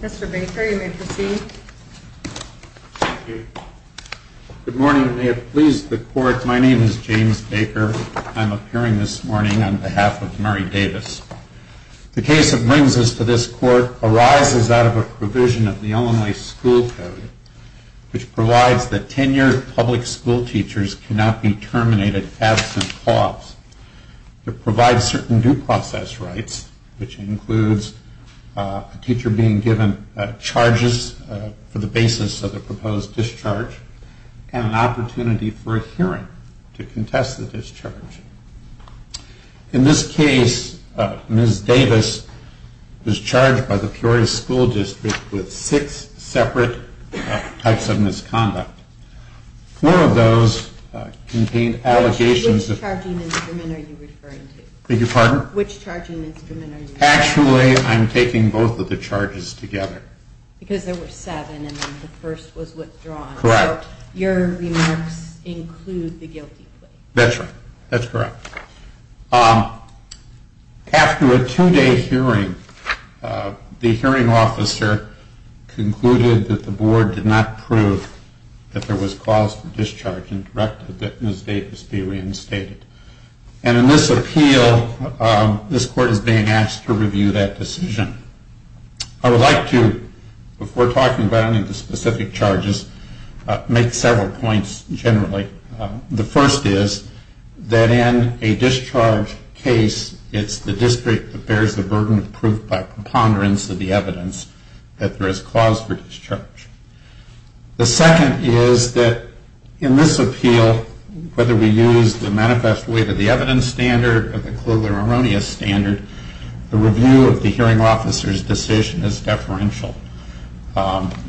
Mr. Baker, you may proceed. Thank you. Good morning, and may it please the Court, my name is James Baker. I'm appearing this morning on behalf of Mary Davis. The case that brings us to this Court arises out of a provision of the Illinois School Code which provides that tenured public school teachers cannot be terminated absent clause. It provides certain due process rights, which includes a teacher being given charges for the basis of the proposed discharge and an opportunity for a hearing to contest the discharge. In this case, Ms. Davis was charged by the Peoria School District with six separate types of misconduct. Four of those contained allegations of... Which charging instrument are you referring to? Beg your pardon? Which charging instrument are you referring to? Actually, I'm taking both of the charges together. Because there were seven and the first was withdrawn. Correct. So your remarks include the guilty plea. That's right, that's correct. After a two-day hearing, the hearing officer concluded that the board did not prove that there was cause for discharge and directed that Ms. Davis be reinstated. And in this appeal, this Court is being asked to review that decision. I would like to, before talking about any of the specific charges, make several points generally. The first is that in a discharge case, it's the district that bears the burden of proof by preponderance of the evidence that there is cause for discharge. The second is that in this appeal, whether we use the manifest way to the evidence standard or the colloquial erroneous standard, the review of the hearing officer's decision is deferential.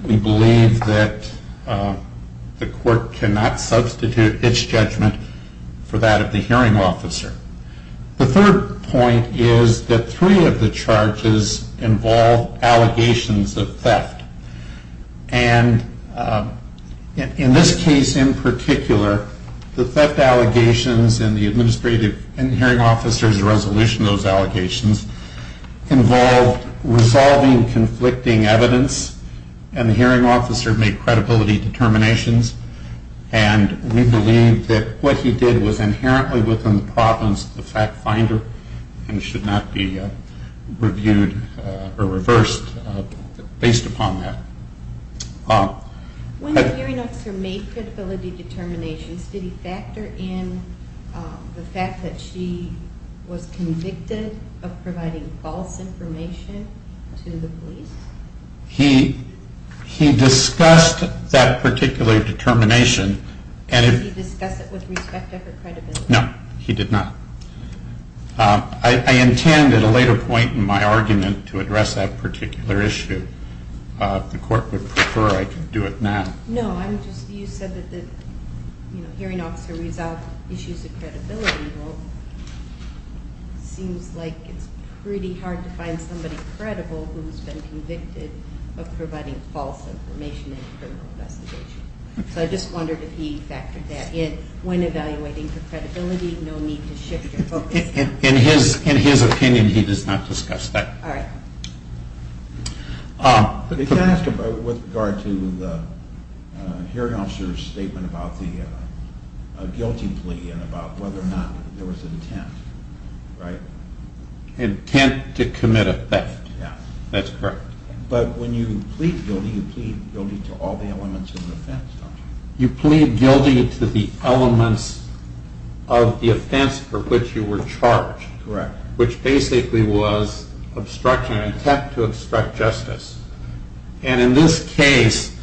We believe that the Court cannot substitute its judgment for that of the hearing officer. The third point is that three of the charges involve allegations of theft. And in this case in particular, the theft allegations in the administrative and hearing officer's resolution of those allegations involved resolving conflicting evidence. And the hearing officer made credibility determinations. And we believe that what he did was inherently within the province of the fact finder and should not be reviewed or reversed based upon that. When the hearing officer made credibility determinations, did he factor in the fact that she was convicted of providing false information to the police? He discussed that particular determination. Did he discuss it with respect to her credibility? No, he did not. I intend at a later point in my argument to address that particular issue. If the Court would prefer, I can do it now. No, you said that the hearing officer resolved issues of credibility. Well, it seems like it's pretty hard to find somebody credible who's been convicted of providing false information in a criminal investigation. So I just wondered if he factored that in. When evaluating for credibility, no need to shift your focus. In his opinion, he does not discuss that. All right. If you ask with regard to the hearing officer's statement about the guilty plea and about whether or not there was intent, right? Intent to commit a theft. That's correct. But when you plead guilty, you plead guilty to all the elements of the offense, don't you? You plead guilty to the elements of the offense for which you were charged. Correct. Which basically was obstruction of intent to obstruct justice. And in this case,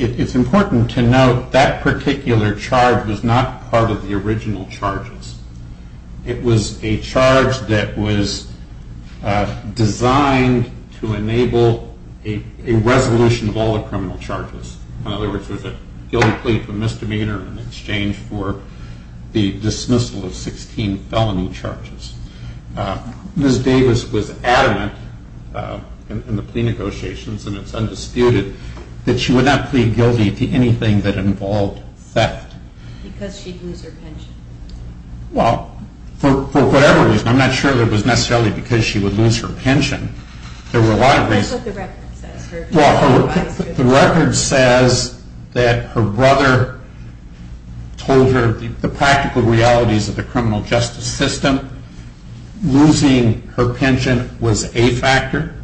it's important to note that particular charge was not part of the original charges. It was a charge that was designed to enable a resolution of all the criminal charges. In other words, it was a guilty plea for misdemeanor in exchange for the dismissal of 16 felony charges. Ms. Davis was adamant in the plea negotiations, and it's undisputed, that she would not plead guilty to anything that involved theft. Because she'd lose her pension. Well, for whatever reason. I'm not sure that it was necessarily because she would lose her pension. There were a lot of reasons. That's what the record says. The record says that her brother told her the practical realities of the criminal justice system. Losing her pension was a factor.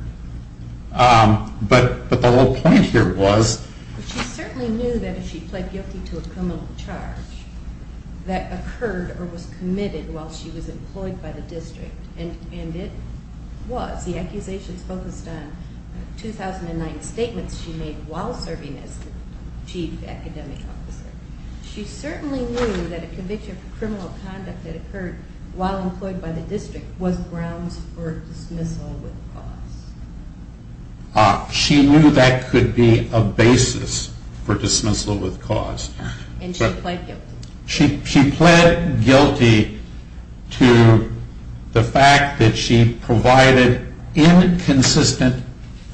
But the whole point here was... She certainly knew that if she pled guilty to a criminal charge, that occurred or was committed while she was employed by the district. And it was. The accusations focused on 2009 statements she made while serving as chief academic officer. She certainly knew that a conviction for criminal conduct that occurred while employed by the district was grounds for dismissal with cause. She knew that could be a basis for dismissal with cause. And she pled guilty. She pled guilty to the fact that she provided inconsistent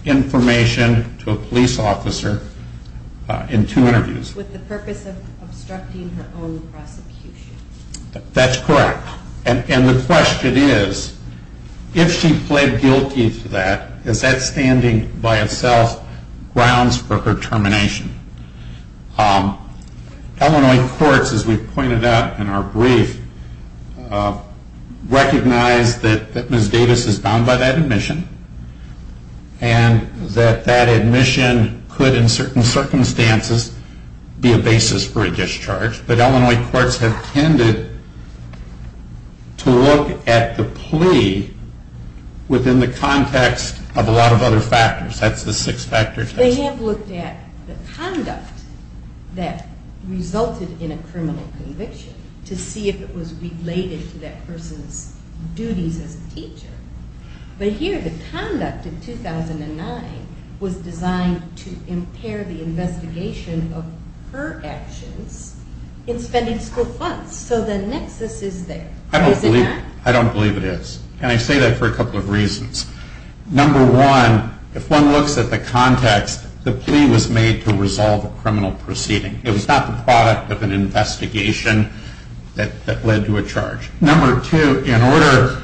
information to a police officer in two interviews. With the purpose of obstructing her own prosecution. That's correct. And the question is, if she pled guilty to that, is that standing by itself grounds for her termination? Illinois courts, as we pointed out in our brief, recognize that Ms. Davis is bound by that admission. And that that admission could, in certain circumstances, be a basis for a discharge. But Illinois courts have tended to look at the plea within the context of a lot of other factors. That's the six-factor test. They have looked at the conduct that resulted in a criminal conviction to see if it was related to that person's duties as a teacher. But here the conduct of 2009 was designed to impair the investigation of her actions in spending school funds. So the nexus is there. I don't believe it is. Number one, if one looks at the context, the plea was made to resolve a criminal proceeding. It was not the product of an investigation that led to a charge. Number two, in order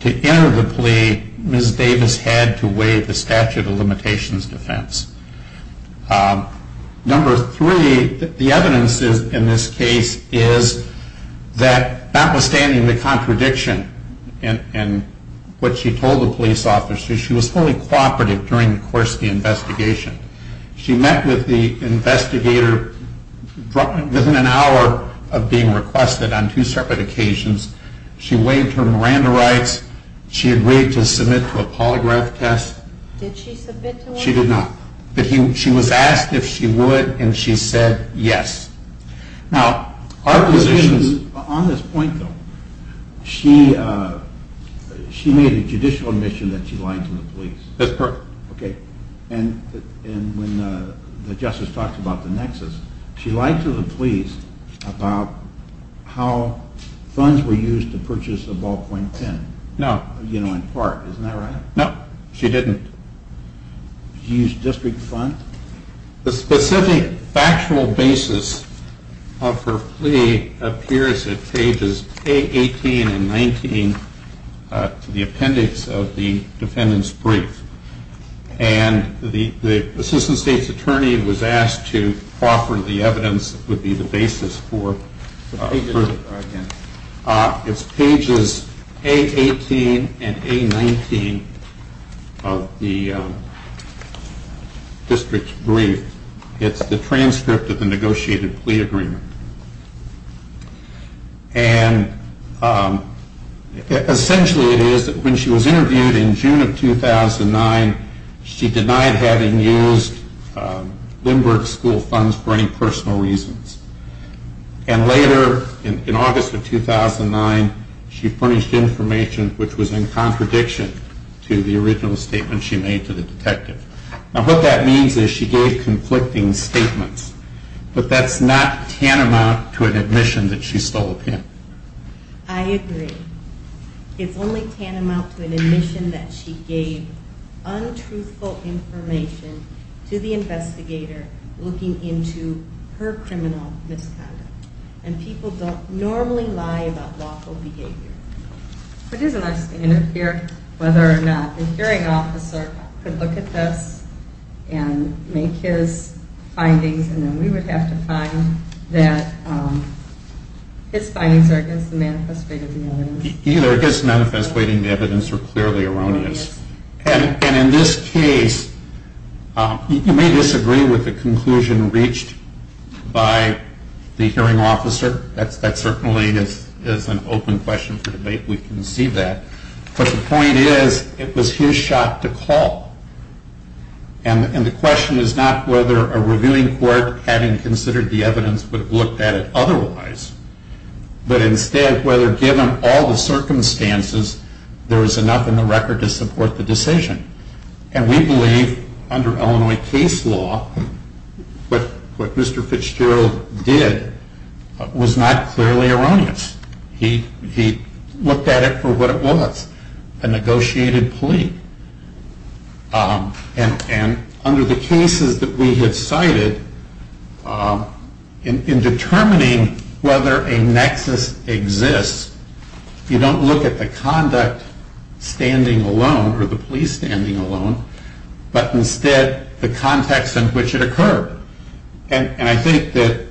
to enter the plea, Ms. Davis had to waive the statute of limitations defense. Number three, the evidence in this case is that notwithstanding the contradiction in what she told the police officers, she was fully cooperative during the course of the investigation. She met with the investigator within an hour of being requested on two separate occasions. She waived her Miranda rights. She agreed to submit to a polygraph test. Did she submit to one? She did not. But she was asked if she would, and she said yes. Now, our position is... On this point, though, she made a judicial admission that she lied to the police. That's correct. Okay. And when the justice talked about the nexus, she lied to the police about how funds were used to purchase a ballpoint pen. No. You know, in part. Isn't that right? No, she didn't. Did she use district funds? The specific factual basis of her plea appears at pages A18 and A19 of the appendix of the defendant's brief. And the assistant state's attorney was asked to offer the evidence that would be the basis for... The pages are right there. It's pages A18 and A19 of the district's brief. It's the transcript of the negotiated plea agreement. And essentially it is that when she was interviewed in June of 2009, she denied having used Lindbergh School funds for any personal reasons. And later, in August of 2009, she punished information which was in contradiction to the original statement she made to the detective. Now, what that means is she gave conflicting statements. But that's not tantamount to an admission that she stole a pen. I agree. It's only tantamount to an admission that she gave untruthful information to the investigator looking into her criminal misconduct. And people don't normally lie about lawful behavior. It is a nice thing to hear whether or not the hearing officer could look at this and make his findings, and then we would have to find that his findings are against the manifest weight of the evidence. Either against the manifest weight of the evidence or clearly erroneous. And in this case, you may disagree with the conclusion reached by the hearing officer. That certainly is an open question for debate. We can see that. But the point is, it was his shot to call. And the question is not whether a reviewing court, having considered the evidence, would have looked at it otherwise. But instead, whether given all the circumstances, there was enough in the record to support the decision. And we believe, under Illinois case law, what Mr. Fitzgerald did was not clearly erroneous. He looked at it for what it was, a negotiated plea. And under the cases that we have cited, in determining whether a nexus exists, you don't look at the conduct standing alone or the police standing alone, but instead the context in which it occurred. And I think that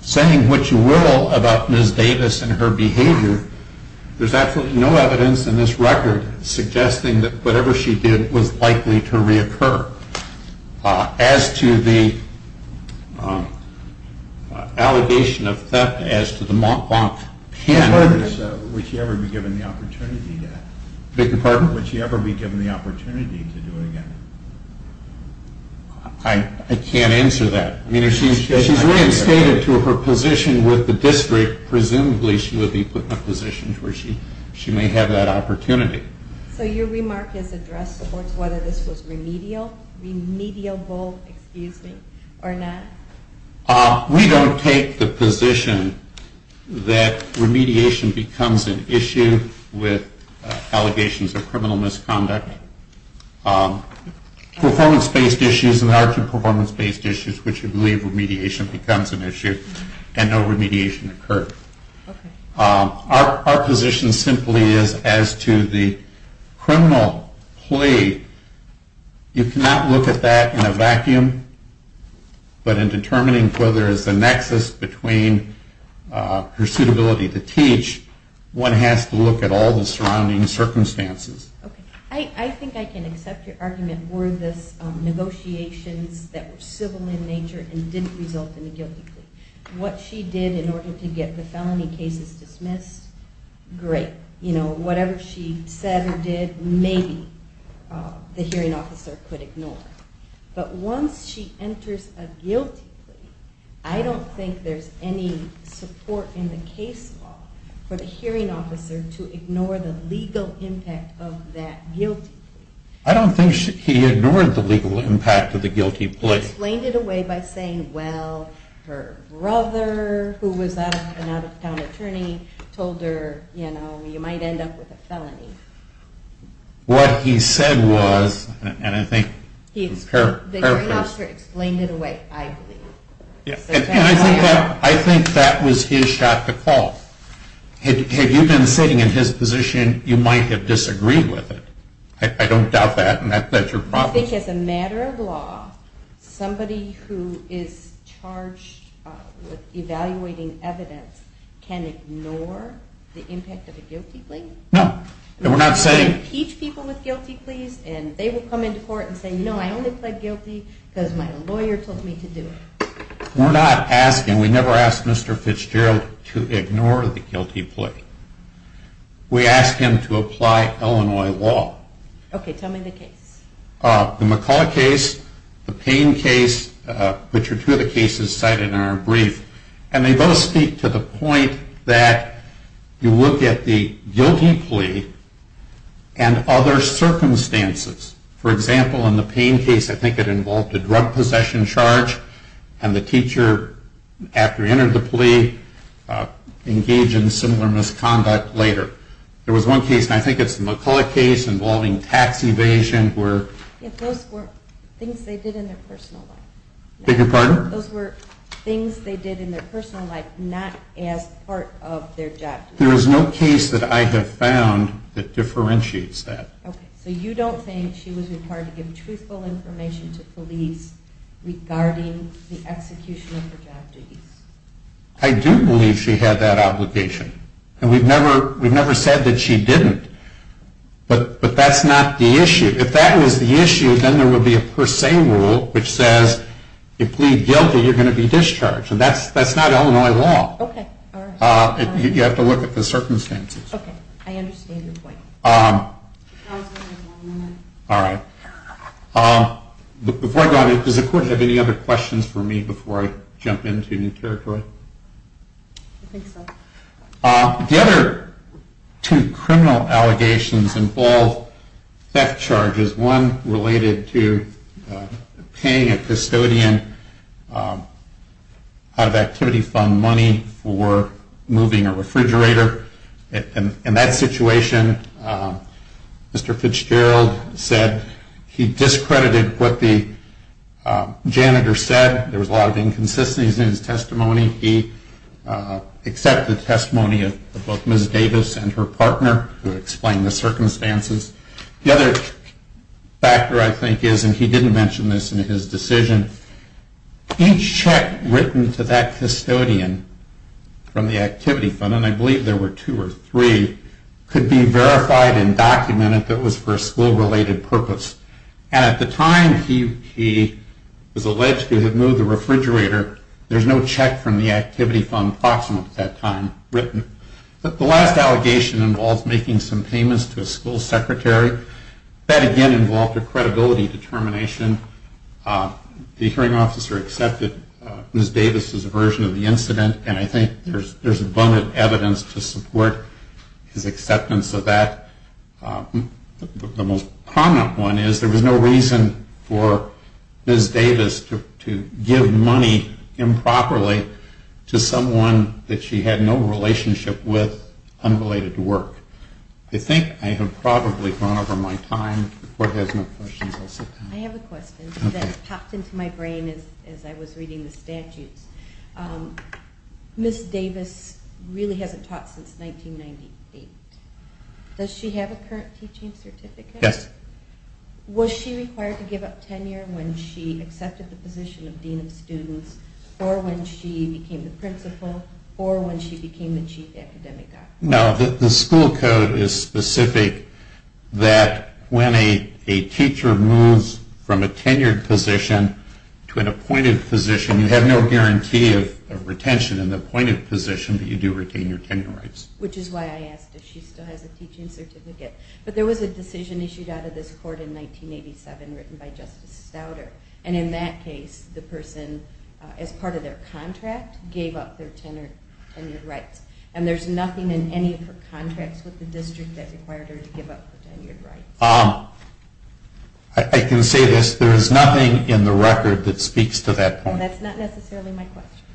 saying what you will about Ms. Davis and her behavior, there's absolutely no evidence in this record suggesting that whatever she did was likely to reoccur. As to the allegation of theft, as to the mock-bonk panel. Would she ever be given the opportunity to do it again? I can't answer that. I mean, if she's reinstated to her position with the district, presumably she would be put in a position where she may have that opportunity. So your remark is addressed towards whether this was remedial, remediable, excuse me, or not? We don't take the position that remediation becomes an issue with allegations of criminal misconduct. Performance-based issues and larger performance-based issues, which we believe remediation becomes an issue and no remediation occurred. Our position simply is as to the criminal plea, you cannot look at that in a vacuum, but in determining whether there is a nexus between her suitability to teach, one has to look at all the surrounding circumstances. I think I can accept your argument were this negotiations that were civil in nature and didn't result in a guilty plea. What she did in order to get the felony cases dismissed, great. Whatever she said or did, maybe the hearing officer could ignore. But once she enters a guilty plea, I don't think there's any support in the case law for the hearing officer to ignore the legal impact of that guilty plea. I don't think he ignored the legal impact of the guilty plea. He explained it away by saying, well, her brother, who was an out-of-town attorney, told her, you know, you might end up with a felony. What he said was, and I think his paraphrase. The hearing officer explained it away, I believe. I think that was his shot to call. Had you been sitting in his position, you might have disagreed with it. I don't doubt that, and that's your problem. You think as a matter of law, somebody who is charged with evaluating evidence can ignore the impact of a guilty plea? No. We're not saying. Teach people with guilty pleas, and they will come into court and say, no, I only pled guilty because my lawyer told me to do it. We're not asking. We never ask Mr. Fitzgerald to ignore the guilty plea. We ask him to apply Illinois law. Okay, tell me the case. The McCaul case, the Payne case, which are two of the cases cited in our brief, and they both speak to the point that you look at the guilty plea and other circumstances. For example, in the Payne case, I think it involved a drug possession charge, and the teacher, after he entered the plea, engaged in similar misconduct later. There was one case, and I think it's the McCaul case, involving tax evasion. Those were things they did in their personal life. Beg your pardon? Those were things they did in their personal life, not as part of their job. There is no case that I have found that differentiates that. Okay, so you don't think she was required to give truthful information to police regarding the execution of her job duties? I do believe she had that obligation, and we've never said that she didn't, but that's not the issue. If that was the issue, then there would be a per se rule which says, if you plead guilty, you're going to be discharged, and that's not Illinois law. Okay, all right. You have to look at the circumstances. Okay, I understand your point. All right. Before I go on, does the court have any other questions for me before I jump into new territory? I think so. The other two criminal allegations involve theft charges, one related to paying a custodian out-of-activity fund money for moving a refrigerator. In that situation, Mr. Fitzgerald said he discredited what the janitor said. There was a lot of inconsistencies in his testimony. He accepted testimony of both Ms. Davis and her partner, who explained the circumstances. The other factor, I think, is, and he didn't mention this in his decision, each check written to that custodian from the activity fund, and I believe there were two or three, could be verified and documented that it was for a school-related purpose. And at the time he was alleged to have moved the refrigerator, there's no check from the activity fund proximate at that time written. The last allegation involves making some payments to a school secretary. That, again, involved a credibility determination. The hearing officer accepted Ms. Davis' version of the incident, and I think there's abundant evidence to support his acceptance of that. The most prominent one is there was no reason for Ms. Davis to give money improperly to someone that she had no relationship with, unrelated to work. I think I have probably gone over my time. If the court has no questions, I'll sit down. I have a question that popped into my brain as I was reading the statutes. Ms. Davis really hasn't taught since 1998. Does she have a current teaching certificate? Yes. Was she required to give up tenure when she accepted the position of dean of students or when she became the principal or when she became the chief academic officer? No. The school code is specific that when a teacher moves from a tenured position to an appointed position, you have no guarantee of retention in the appointed position, but you do retain your tenure rights. Which is why I asked if she still has a teaching certificate. But there was a decision issued out of this court in 1987 written by Justice Stauder, and in that case the person, as part of their contract, gave up their tenure rights. And there's nothing in any of her contracts with the district that required her to give up her tenure rights. I can say this. There is nothing in the record that speaks to that point. That's not necessarily my question.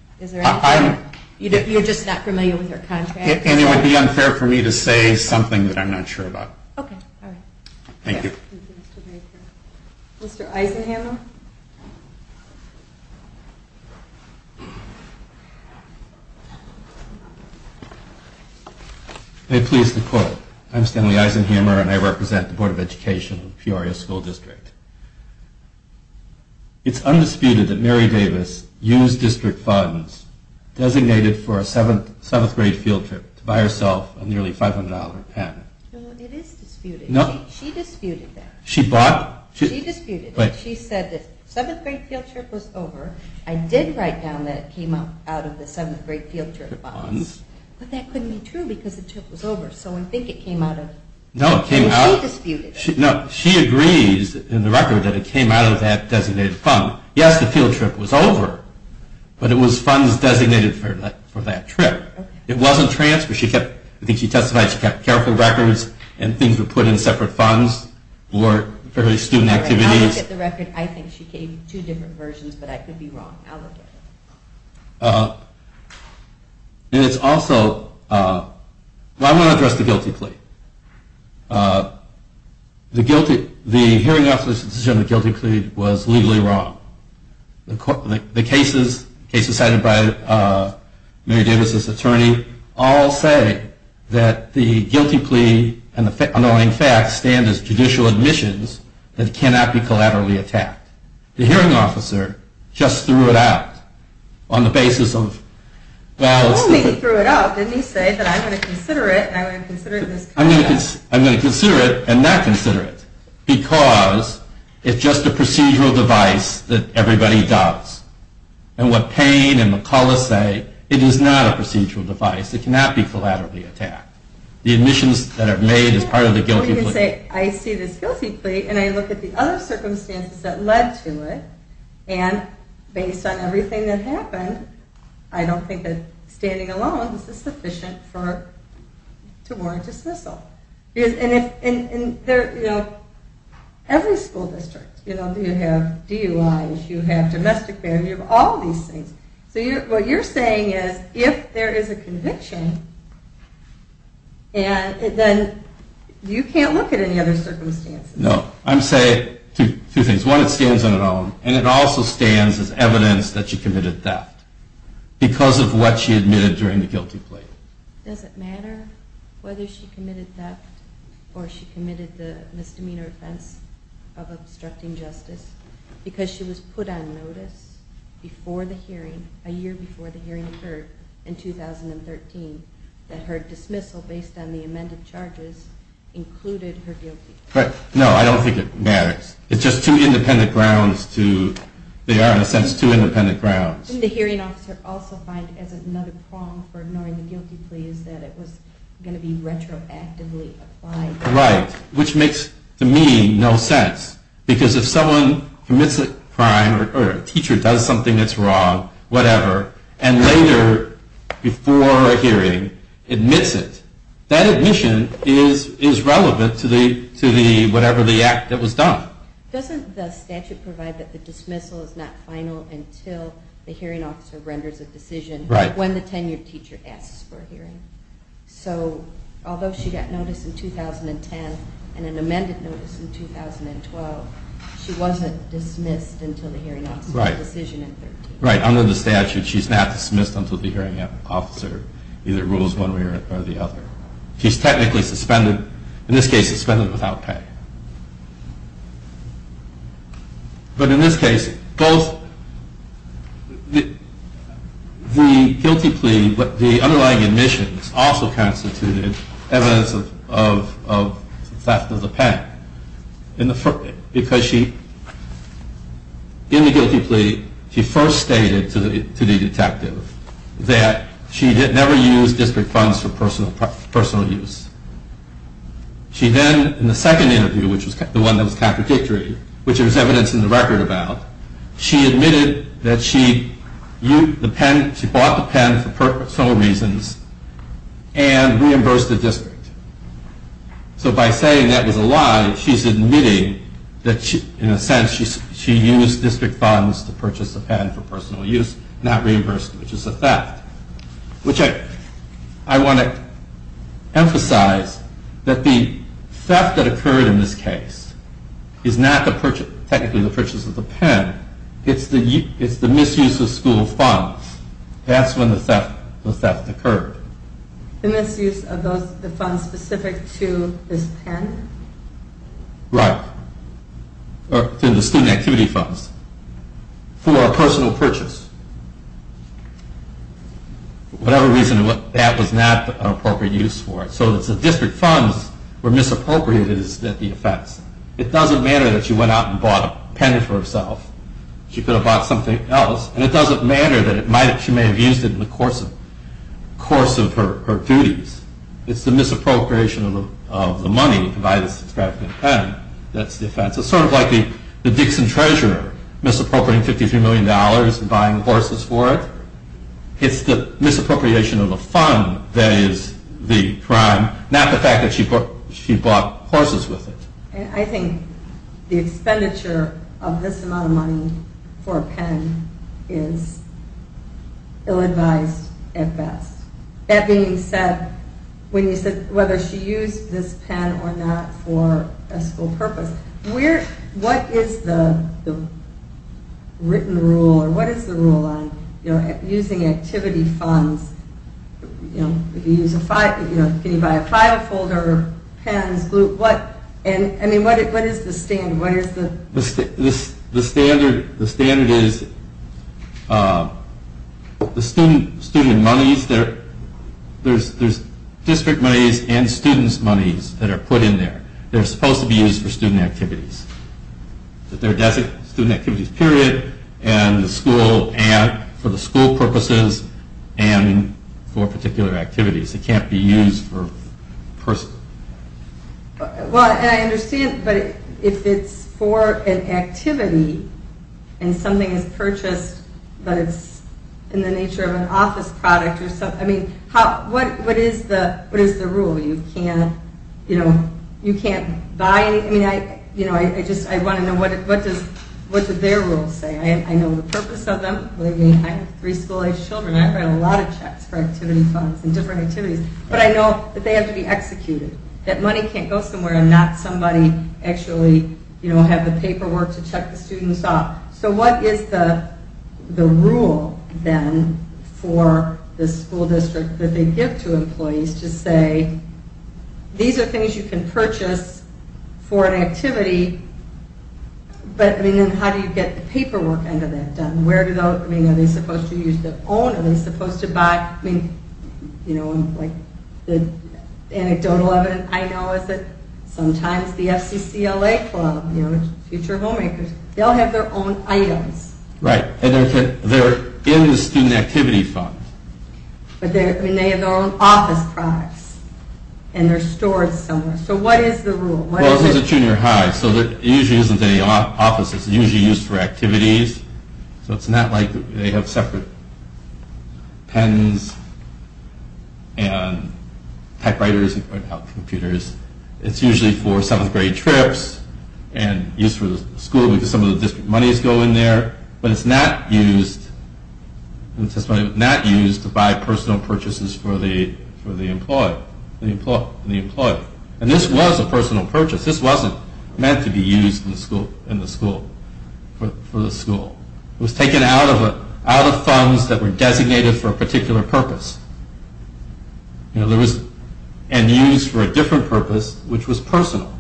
You're just not familiar with her contracts? And it would be unfair for me to say something that I'm not sure about. Okay. Thank you. Thank you, Mr. Baker. Mr. Eisenhammer? May it please the court. I'm Stanley Eisenhammer, and I represent the Board of Education of Peoria School District. It's undisputed that Mary Davis used district funds designated for a seventh-grade field trip to buy herself a nearly $500 patent. No, it is disputed. No. She disputed that. She bought? She disputed it. She said that. She said the seventh-grade field trip was over. I did write down that it came out of the seventh-grade field trip funds. But that couldn't be true because the trip was over. So I think it came out of... No, it came out... And she disputed it. No, she agrees in the record that it came out of that designated fund. Yes, the field trip was over, but it was funds designated for that trip. Okay. It wasn't transfer. She kept... I think she testified she kept careful records and things were put in separate funds for her student activities. If you look at the record, I think she gave two different versions, but I could be wrong. I'll look at it. And it's also... Well, I want to address the guilty plea. The hearing officers' decision on the guilty plea was legally wrong. The cases cited by Mary Davis's attorney all say that the guilty plea and the annoying facts stand as judicial admissions that cannot be collaterally attacked. The hearing officer just threw it out on the basis of... Well, he threw it out. Didn't he say that I'm going to consider it and I'm going to consider this... I'm going to consider it and not consider it because it's just a procedural device that everybody does. And what Payne and McCullough say, it is not a procedural device. It cannot be collaterally attacked. The admissions that are made is part of the guilty plea. I see this guilty plea, and I look at the other circumstances that led to it, and based on everything that happened, I don't think that standing alone is sufficient to warrant dismissal. Every school district, you have DUIs, you have domestic barriers, you have all these things. So what you're saying is if there is a conviction, then you can't look at any other circumstances. No. I'm saying two things. One, it stands on its own, and it also stands as evidence that she committed theft because of what she admitted during the guilty plea. Does it matter whether she committed theft or she committed the misdemeanor offense of obstructing justice because she was put on notice a year before the hearing occurred in 2013 that her dismissal based on the amended charges included her guilty plea? No, I don't think it matters. It's just two independent grounds. They are, in a sense, two independent grounds. The hearing officer also finds as another prong for ignoring the guilty plea is that it was going to be retroactively applied. Right. Which makes, to me, no sense. Because if someone commits a crime or a teacher does something that's wrong, whatever, and later, before a hearing, admits it, that admission is relevant to whatever the act that was done. Doesn't the statute provide that the dismissal is not final until the hearing officer renders a decision when the tenured teacher asks for a hearing? So, although she got notice in 2010 and an amended notice in 2012, she wasn't dismissed until the hearing officer's decision in 2013. Right. Under the statute, she's not dismissed until the hearing officer either rules one way or the other. She's technically suspended, in this case, suspended without pay. But in this case, both the guilty plea, but the underlying admissions, also constituted evidence of theft of the pen. Because she, in the guilty plea, she first stated to the detective that she had never used district funds for personal use. She then, in the second interview, which was the one that was contradictory, which there was evidence in the record about, she admitted that she bought the pen for personal reasons and reimbursed the district. So by saying that was a lie, she's admitting that, in a sense, she used district funds to purchase the pen for personal use, not reimbursement, which is a theft. Which I want to emphasize that the theft that occurred in this case is not technically the purchase of the pen, it's the misuse of school funds. That's when the theft occurred. The misuse of the funds specific to this pen? Right. Or the student activity funds for a personal purchase. For whatever reason, that was not an appropriate use for it. So the district funds were misappropriated as the offense. It doesn't matter that she went out and bought a pen for herself. She could have bought something else. And it doesn't matter that she may have used it in the course of her duties. It's the misappropriation of the money to buy this extravagant pen that's the offense. It's sort of like the Dixon treasurer misappropriating $53 million and buying horses for it. It's the misappropriation of the fund that is the crime, not the fact that she bought horses with it. I think the expenditure of this amount of money for a pen is ill-advised at best. That being said, whether she used this pen or not for a school purpose, what is the written rule or what is the rule on using activity funds? Can you buy a file folder, pens, glue? What is the standard? The standard is the student monies. There's district monies and students' monies that are put in there. They're supposed to be used for student activities. They're designed for student activities period and for the school purposes and for particular activities. They can't be used for personal. I understand, but if it's for an activity and something is purchased, but it's in the nature of an office product, what is the rule? You can't buy anything. I want to know what their rules say. I know the purpose of them. I have three school-age children. I've got a lot of checks for activity funds and different activities, but I know that they have to be executed, that money can't go somewhere and not somebody actually have the paperwork to check the students off. So what is the rule then for the school district that they give to employees to say, these are things you can purchase for an activity, but how do you get the paperwork end of that done? Are they supposed to use their own? Are they supposed to buy? The anecdotal evidence I know is that sometimes the FCCLA club, Future Homemakers, they'll have their own items. Right, and they're in the student activity fund. But they have their own office products and they're stored somewhere. So what is the rule? Well, this is a junior high, so it usually isn't in the office. It's usually used for activities. So it's not like they have separate pens and typewriters and computers. It's usually for seventh grade trips and used for the school because some of the district monies go in there. But it's not used to buy personal purchases for the employee. And this was a personal purchase. This wasn't meant to be used in the school, for the school. It was taken out of funds that were designated for a particular purpose. And used for a different purpose, which was personal.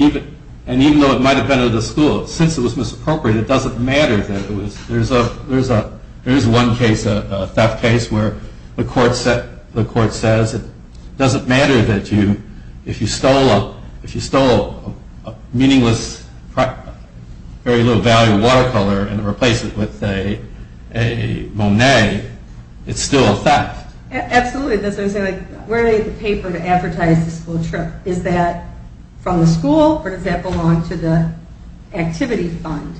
And even though it might have been at the school, since it was misappropriated, it doesn't matter that it was. There is one case, a theft case, where the court says it doesn't matter that you, if you stole a meaningless, very low-value watercolor and replace it with a Monet, it's still a theft. Absolutely. That's what I'm saying. Where do they get the paper to advertise the school trip? Is that from the school, or does that belong to the activity fund?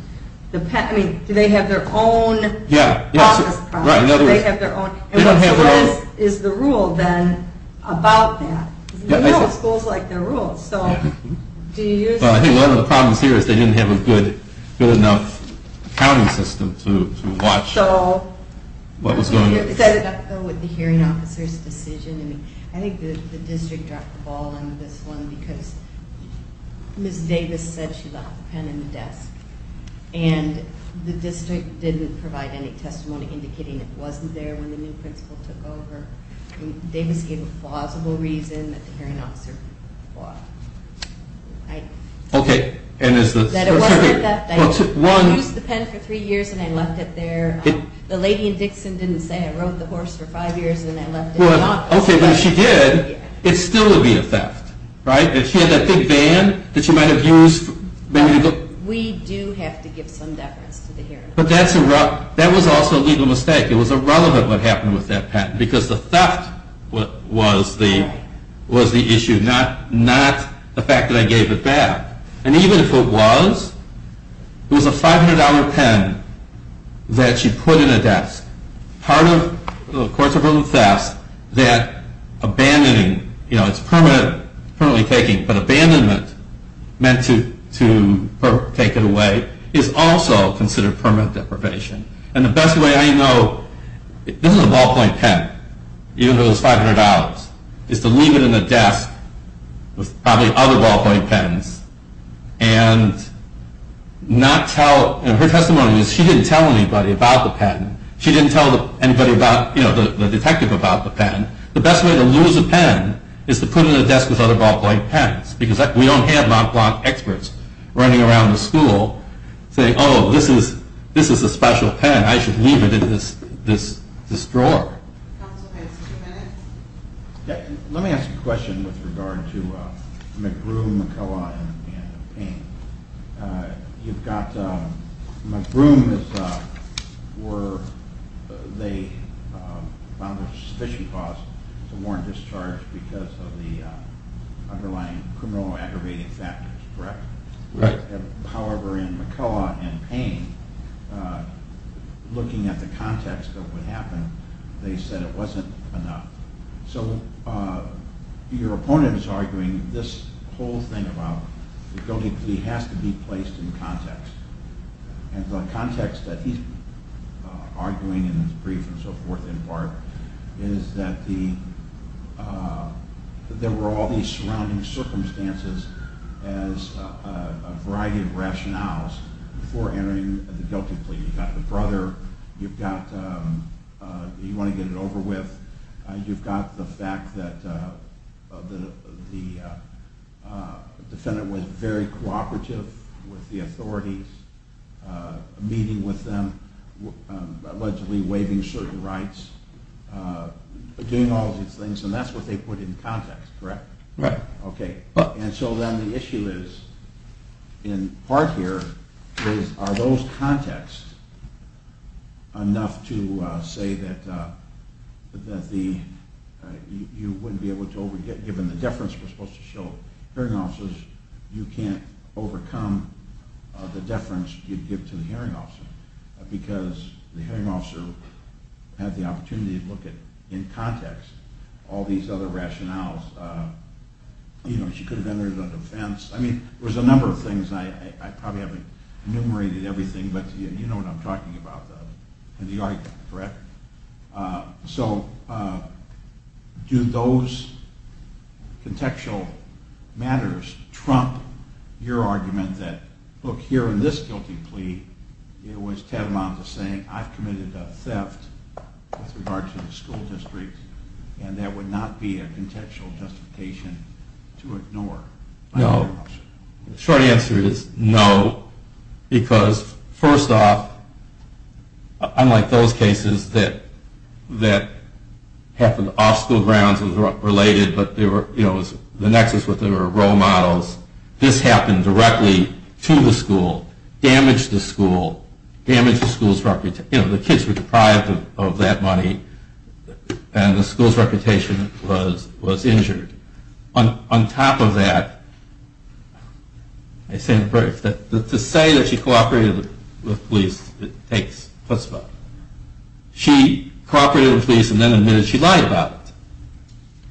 Do they have their own process problem? Do they have their own? And what is the rule, then, about that? Because we know schools like their rules. I think one of the problems here is they didn't have a good enough accounting system to watch what was going on. I think it has to do with the hearing officer's decision. I think the district dropped the ball on this one because Ms. Davis said she left the pen in the desk. And the district didn't provide any testimony indicating it wasn't there when the new principal took over. Davis gave a plausible reason that the hearing officer bought it. Okay. That it wasn't a theft. I used the pen for three years and I left it there. The lady in Dixon didn't say I rode the horse for five years and I left it. Okay, but if she did, it still would be a theft, right? If she had that big van that she might have used. We do have to give some deference to the hearing officer. But that was also a legal mistake. It was irrelevant what happened with that pen because the theft was the issue, not the fact that I gave it back. And even if it was, it was a $500 pen that she put in a desk. Part of the courts of verbal theft that abandoning, you know, it's permanently taking, but abandonment meant to take it away is also considered permanent deprivation. And the best way I know, this is a ballpoint pen, even though it's $500, is to leave it in the desk with probably other ballpoint pens and not tell, and her testimony was she didn't tell anybody about the pen. She didn't tell anybody about, you know, the detective about the pen. The best way to lose a pen is to put it in a desk with other ballpoint pens because we don't have non-block experts running around the school saying, oh, this is a special pen. I should leave it in this drawer. Counsel has two minutes. Let me ask a question with regard to McBroom, McCullough, and Payne. You've got McBroom where they found a suspicion clause to warrant discharge because of the underlying criminal aggravating factors, correct? Correct. However, in McCullough and Payne, looking at the context of what happened, they said it wasn't enough. So your opponent is arguing this whole thing about the guilty plea has to be placed in context. And the context that he's arguing in his brief and so forth in part is that there were all these surrounding circumstances as a variety of rationales before entering the guilty plea. You've got the brother you want to get it over with. You've got the fact that the defendant was very cooperative with the authorities, meeting with them, allegedly waiving certain rights, doing all these things, and that's what they put in context, correct? Correct. Okay. And so then the issue is, in part here, is are those contexts enough to say that you wouldn't be able to, given the deference we're supposed to show hearing officers, you can't overcome the deference you'd give to the hearing officer because the hearing officer had the opportunity to look at, in context, all these other rationales. You know, she could have entered as an offense. I mean, there's a number of things. I probably haven't enumerated everything, but you know what I'm talking about. And you are, correct? So do those contextual matters trump your argument that, look, here in this guilty plea, it was Tatamanta saying, I've committed a theft with regard to the school district, and that would not be a contextual justification to ignore. No. The short answer is no. Because, first off, unlike those cases that happened off school grounds and were related, but the nexus was there were role models. This happened directly to the school, damaged the school, damaged the school's reputation. You know, the kids were deprived of that money, and the school's reputation was injured. On top of that, to say that she cooperated with the police, it takes a spot. She cooperated with the police and then admitted she lied about it.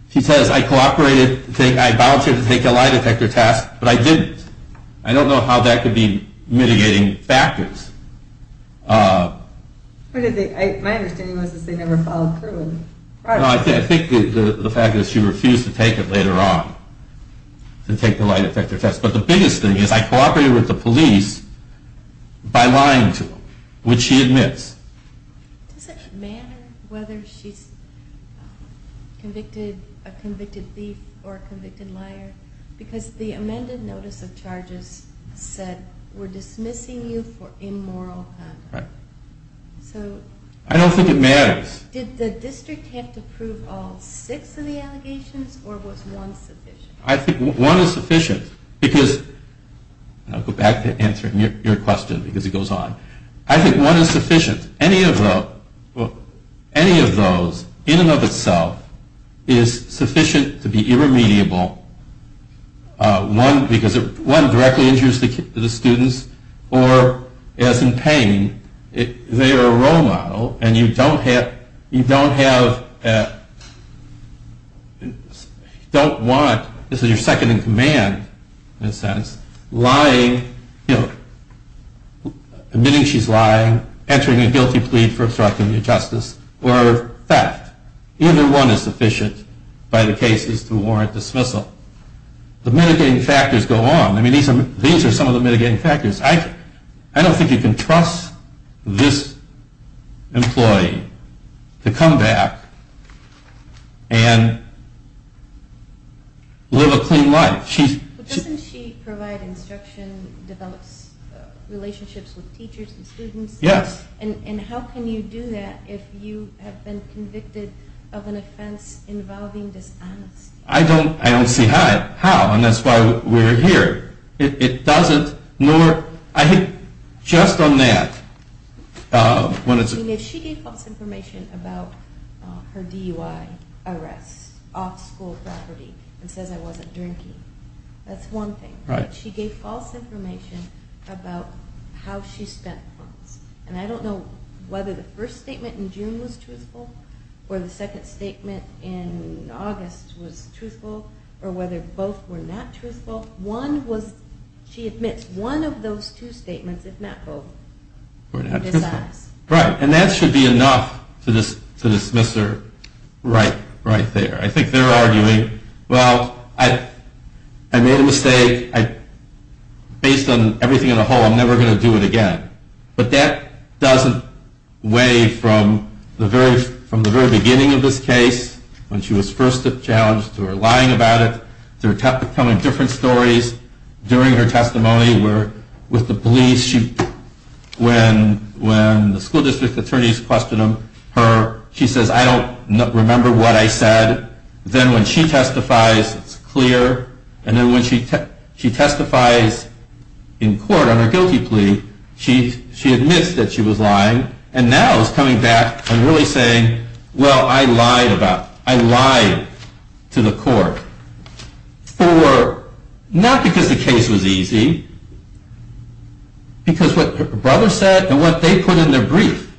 She says, I cooperated, I vouched to take a lie detector test, but I didn't. I don't know how that could be mitigating factors. My understanding was that they never followed through. I think the fact that she refused to take it later on, to take the lie detector test. But the biggest thing is, I cooperated with the police by lying to them, which she admits. Does it matter whether she's a convicted thief or a convicted liar? Because the amended notice of charges said, we're dismissing you for immoral conduct. Right. So... I don't think it matters. Did the district have to prove all six of the allegations, or was one sufficient? I think one is sufficient, because... I'll go back to answering your question, because it goes on. I think one is sufficient. Any of those, in and of itself, is sufficient to be irremediable. One directly injures the students, or, as in pain, they are a role model, and you don't want, this is your second in command, in a sense, lying, admitting she's lying, entering a guilty plea for obstruction of justice, or theft. Either one is sufficient by the cases to warrant dismissal. The mitigating factors go on. These are some of the mitigating factors. I don't think you can trust this employee to come back and live a clean life. Doesn't she provide instruction, develop relationships with teachers and students? Yes. And how can you do that if you have been convicted of an offense involving dishonesty? I don't see how, and that's why we're here. It doesn't, nor, I think, just on that, when it's... She gave false information about her DUI arrest, off school property, and says I wasn't drinking. That's one thing. She gave false information about how she spent the funds. And I don't know whether the first statement in June was truthful, or the second statement in August was truthful, or whether both were not truthful. She admits one of those two statements, if not both, were not truthful. Right, and that should be enough to dismiss her right there. I think they're arguing, well, I made a mistake. Based on everything in the whole, I'm never going to do it again. But that doesn't weigh from the very beginning of this case, when she was first challenged, to her lying about it, there kept coming different stories during her testimony, where with the police, when the school district attorneys questioned her, she says, I don't remember what I said. Then when she testifies, it's clear. And then when she testifies in court on her guilty plea, she admits that she was lying, and now is coming back and really saying, well, I lied to the court, not because the case was easy, because what her brother said and what they put in their brief,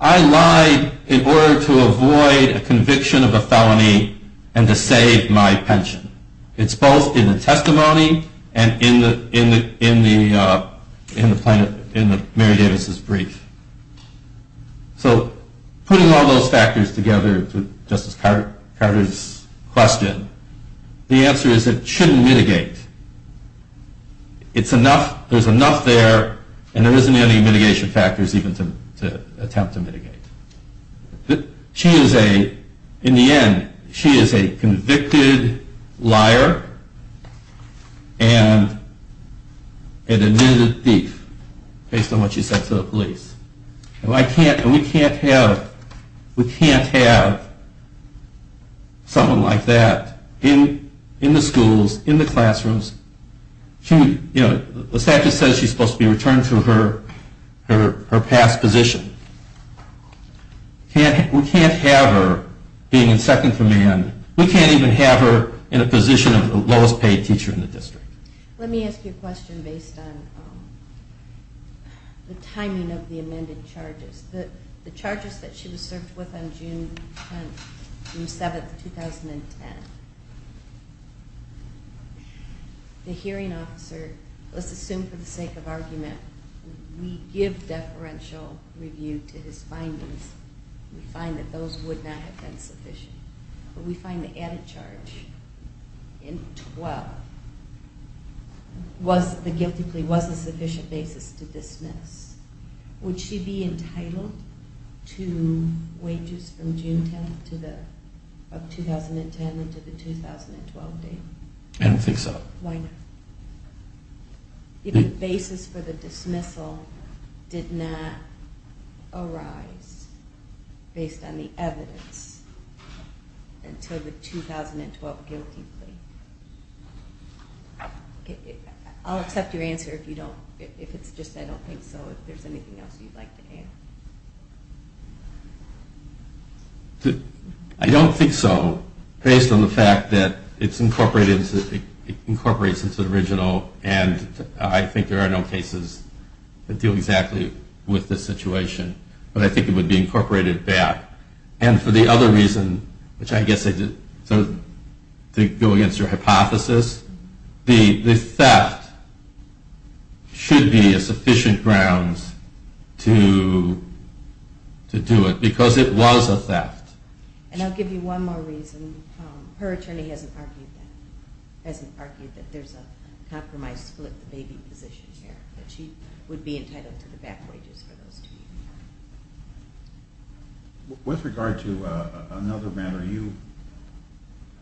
I lied in order to avoid a conviction of a felony and to save my pension. It's both in the testimony and in Mary Davis's brief. So putting all those factors together to Justice Carter's question, the answer is it shouldn't mitigate. It's enough, there's enough there, and there isn't any mitigation factors even to attempt to mitigate. She is a, in the end, she is a convicted liar, and an admitted thief, based on what she said to the police. And we can't have someone like that in the schools, in the classrooms. The statute says she's supposed to be returned to her past position. We can't have her being in second command. We can't even have her in a position of the lowest paid teacher in the district. Let me ask you a question based on the timing of the amended charges. The charges that she was served with on June 7, 2010, the hearing officer, let's assume for the sake of argument, we give deferential review to his findings. We find that those would not have been sufficient. But we find the added charge in 12, the guilty plea was a sufficient basis to dismiss. Would she be entitled to wages from June 10th of 2010 until the 2012 date? I don't think so. Why not? The basis for the dismissal did not arise based on the evidence until the 2012 guilty plea. I'll accept your answer if you don't, if it's just I don't think so, if there's anything else you'd like to add. I don't think so, based on the fact that it incorporates into the original and I think there are no cases that deal exactly with this situation. But I think it would be incorporated back. And for the other reason, which I guess goes against your hypothesis, the theft should be a sufficient grounds to do it because it was a theft. And I'll give you one more reason. Her attorney hasn't argued that. Hasn't argued that there's a compromise split, the baby position here, that she would be entitled to the back wages for those two years. With regard to another matter, you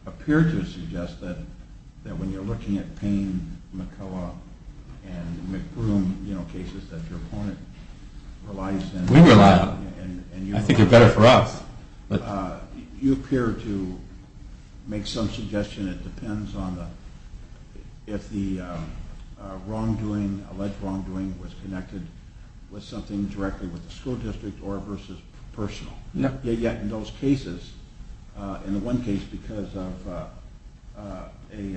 appear to suggest that when you're looking at Payne, McCullough, and McBroom, you know, cases that your opponent relies on. We rely on them. I think they're better for us. You appear to make some suggestion. It depends on if the wrongdoing, alleged wrongdoing, was connected with something directly with the school district or versus personal. Yet in those cases, in the one case because of an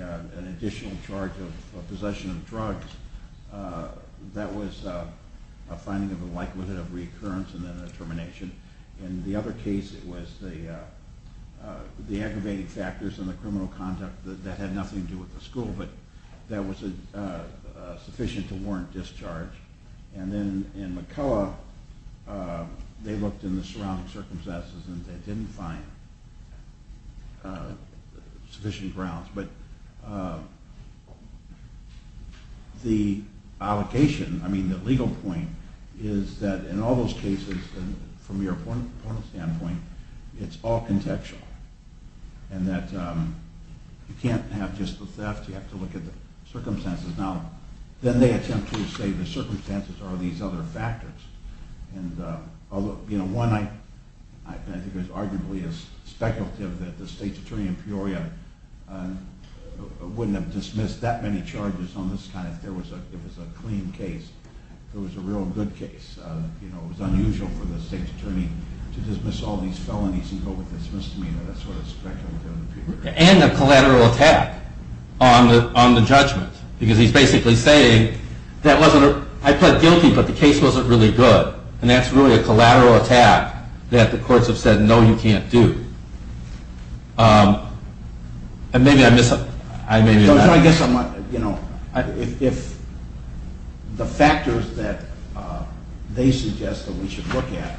additional charge of possession of drugs, that was a finding of a likelihood of recurrence and then a termination. In the other case, it was the aggravating factors and the criminal conduct that had nothing to do with the school, but that was sufficient to warrant discharge. And then in McCullough, they looked in the surrounding circumstances and they didn't find sufficient grounds. But the legal point is that in all those cases, from your opponent's standpoint, it's all contextual. And that you can't have just the theft. You have to look at the circumstances. Now, then they attempt to say the circumstances are these other factors. And, you know, one, I think it was arguably speculative that the state's attorney in Peoria wouldn't have dismissed that many charges on this kind. It was a clean case. It was a real good case. You know, it was unusual for the state's attorney to dismiss all these felonies and go with this misdemeanor. That's what it's speculated on in Peoria. And a collateral attack on the judgment. Because he's basically saying, I pled guilty, but the case wasn't really good. And that's really a collateral attack that the courts have said, no, you can't do. And maybe I missed something. No, I guess, you know, if the factors that they suggest that we should look at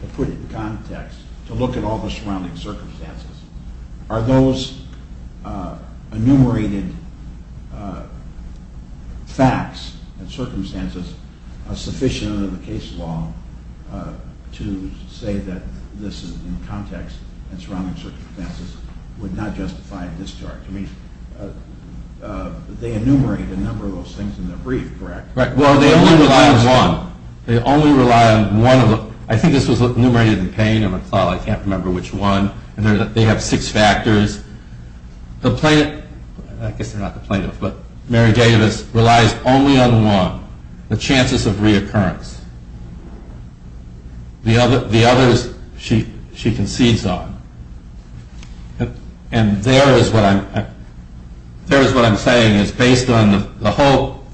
to put it in context, to look at all the surrounding circumstances, are those enumerated facts and circumstances sufficient under the case law to say that this is in context and surrounding circumstances would not justify a discharge? I mean, they enumerate a number of those things in their brief, correct? Well, they only rely on one. They only rely on one of them. I think this was enumerated in Payne. I can't remember which one. And they have six factors. The plaintiff, I guess they're not the plaintiff, but Mary Davis relies only on one. The chances of reoccurrence. The others she concedes on. And there is what I'm saying is based on the whole,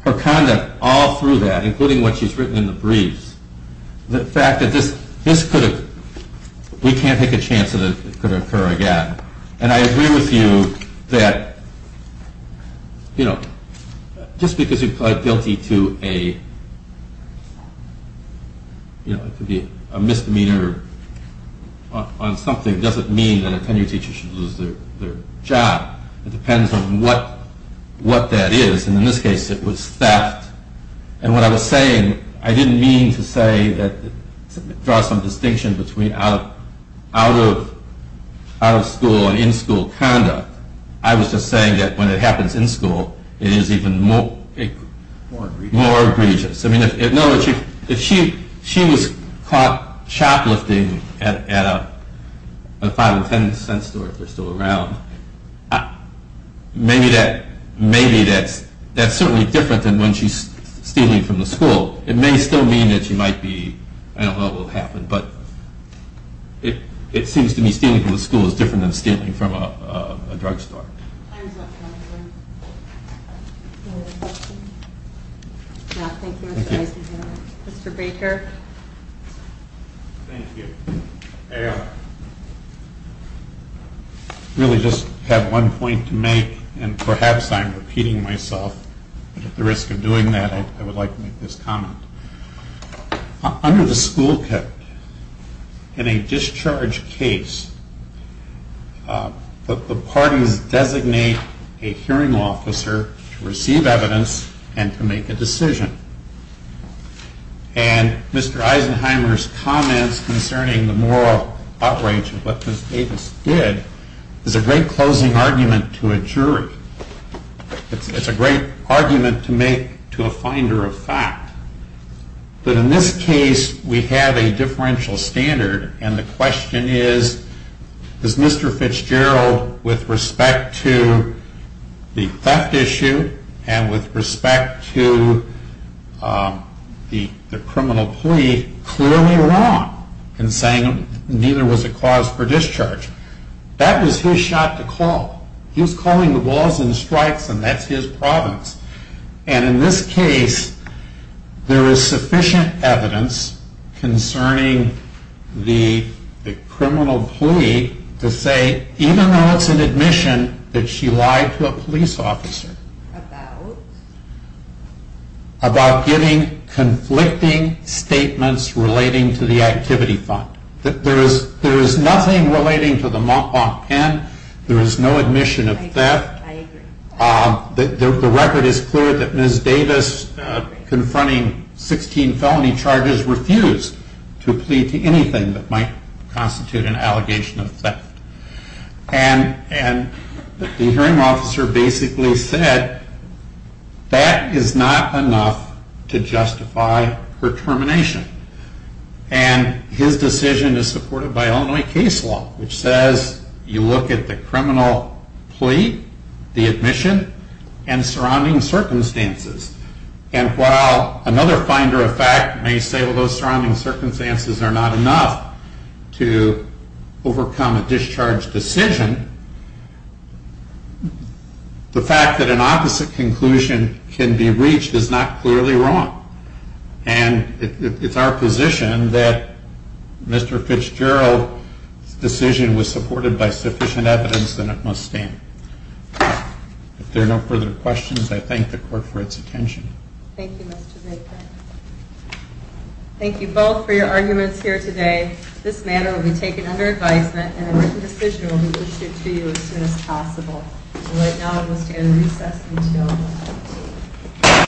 her conduct all through that, including what she's written in the briefs, the fact that this could have, we can't take a chance that it could occur again. And I agree with you that, you know, just because you plead guilty to a, you know, it could be a misdemeanor on something doesn't mean that a tenure teacher should lose their job. It depends on what that is. And in this case, it was theft. And what I was saying, I didn't mean to say that it draws some distinction between out of school and in school conduct. I was just saying that when it happens in school, it is even more egregious. I mean, if she was caught shoplifting at a 5 and 10 cent store, if they're still around, maybe that's certainly different than when she's stealing from the school. It may still mean that she might be, I don't know what will happen, but it seems to me stealing from the school is different than stealing from a drug store. Time's up, gentlemen. Thank you, Mr. Eisenhower. Mr. Baker. Thank you. I really just have one point to make, and perhaps I'm repeating myself, but at the risk of doing that, I would like to make this comment. Under the school code, in a discharge case, the parties designate a hearing officer to receive evidence and to make a decision. And Mr. Eisenhower's comments concerning the moral outrage of what Ms. Davis did is a great closing argument to a jury. It's a great argument to make to a finder of fact. But in this case, we have a differential standard, and the question is, is Mr. Fitzgerald, with respect to the theft issue and with respect to the criminal plea, clearly wrong in saying neither was a cause for discharge? That was his shot to call. He was calling the balls and strikes, and that's his province. And in this case, there is sufficient evidence concerning the criminal plea to say, even though it's an admission that she lied to a police officer, about giving conflicting statements relating to the activity fund. There is nothing relating to the mop mop pen. There is no admission of theft. The record is clear that Ms. Davis, confronting 16 felony charges, refused to plead to anything that might constitute an allegation of theft. And the hearing officer basically said, that is not enough to justify her termination. And his decision is supported by Illinois case law, which says you look at the criminal plea, the admission, and surrounding circumstances. And while another finder of fact may say, well, those surrounding circumstances are not enough to overcome a discharge decision, the fact that an opposite conclusion can be reached is not clearly wrong. And it's our position that Mr. Fitzgerald's decision was supported by sufficient evidence, and it must stand. If there are no further questions, I thank the court for its attention. Thank you, Mr. Baker. Thank you both for your arguments here today. This matter will be taken under advisement, and a written decision will be issued to you as soon as possible. Right now, it will stand in recess until 12.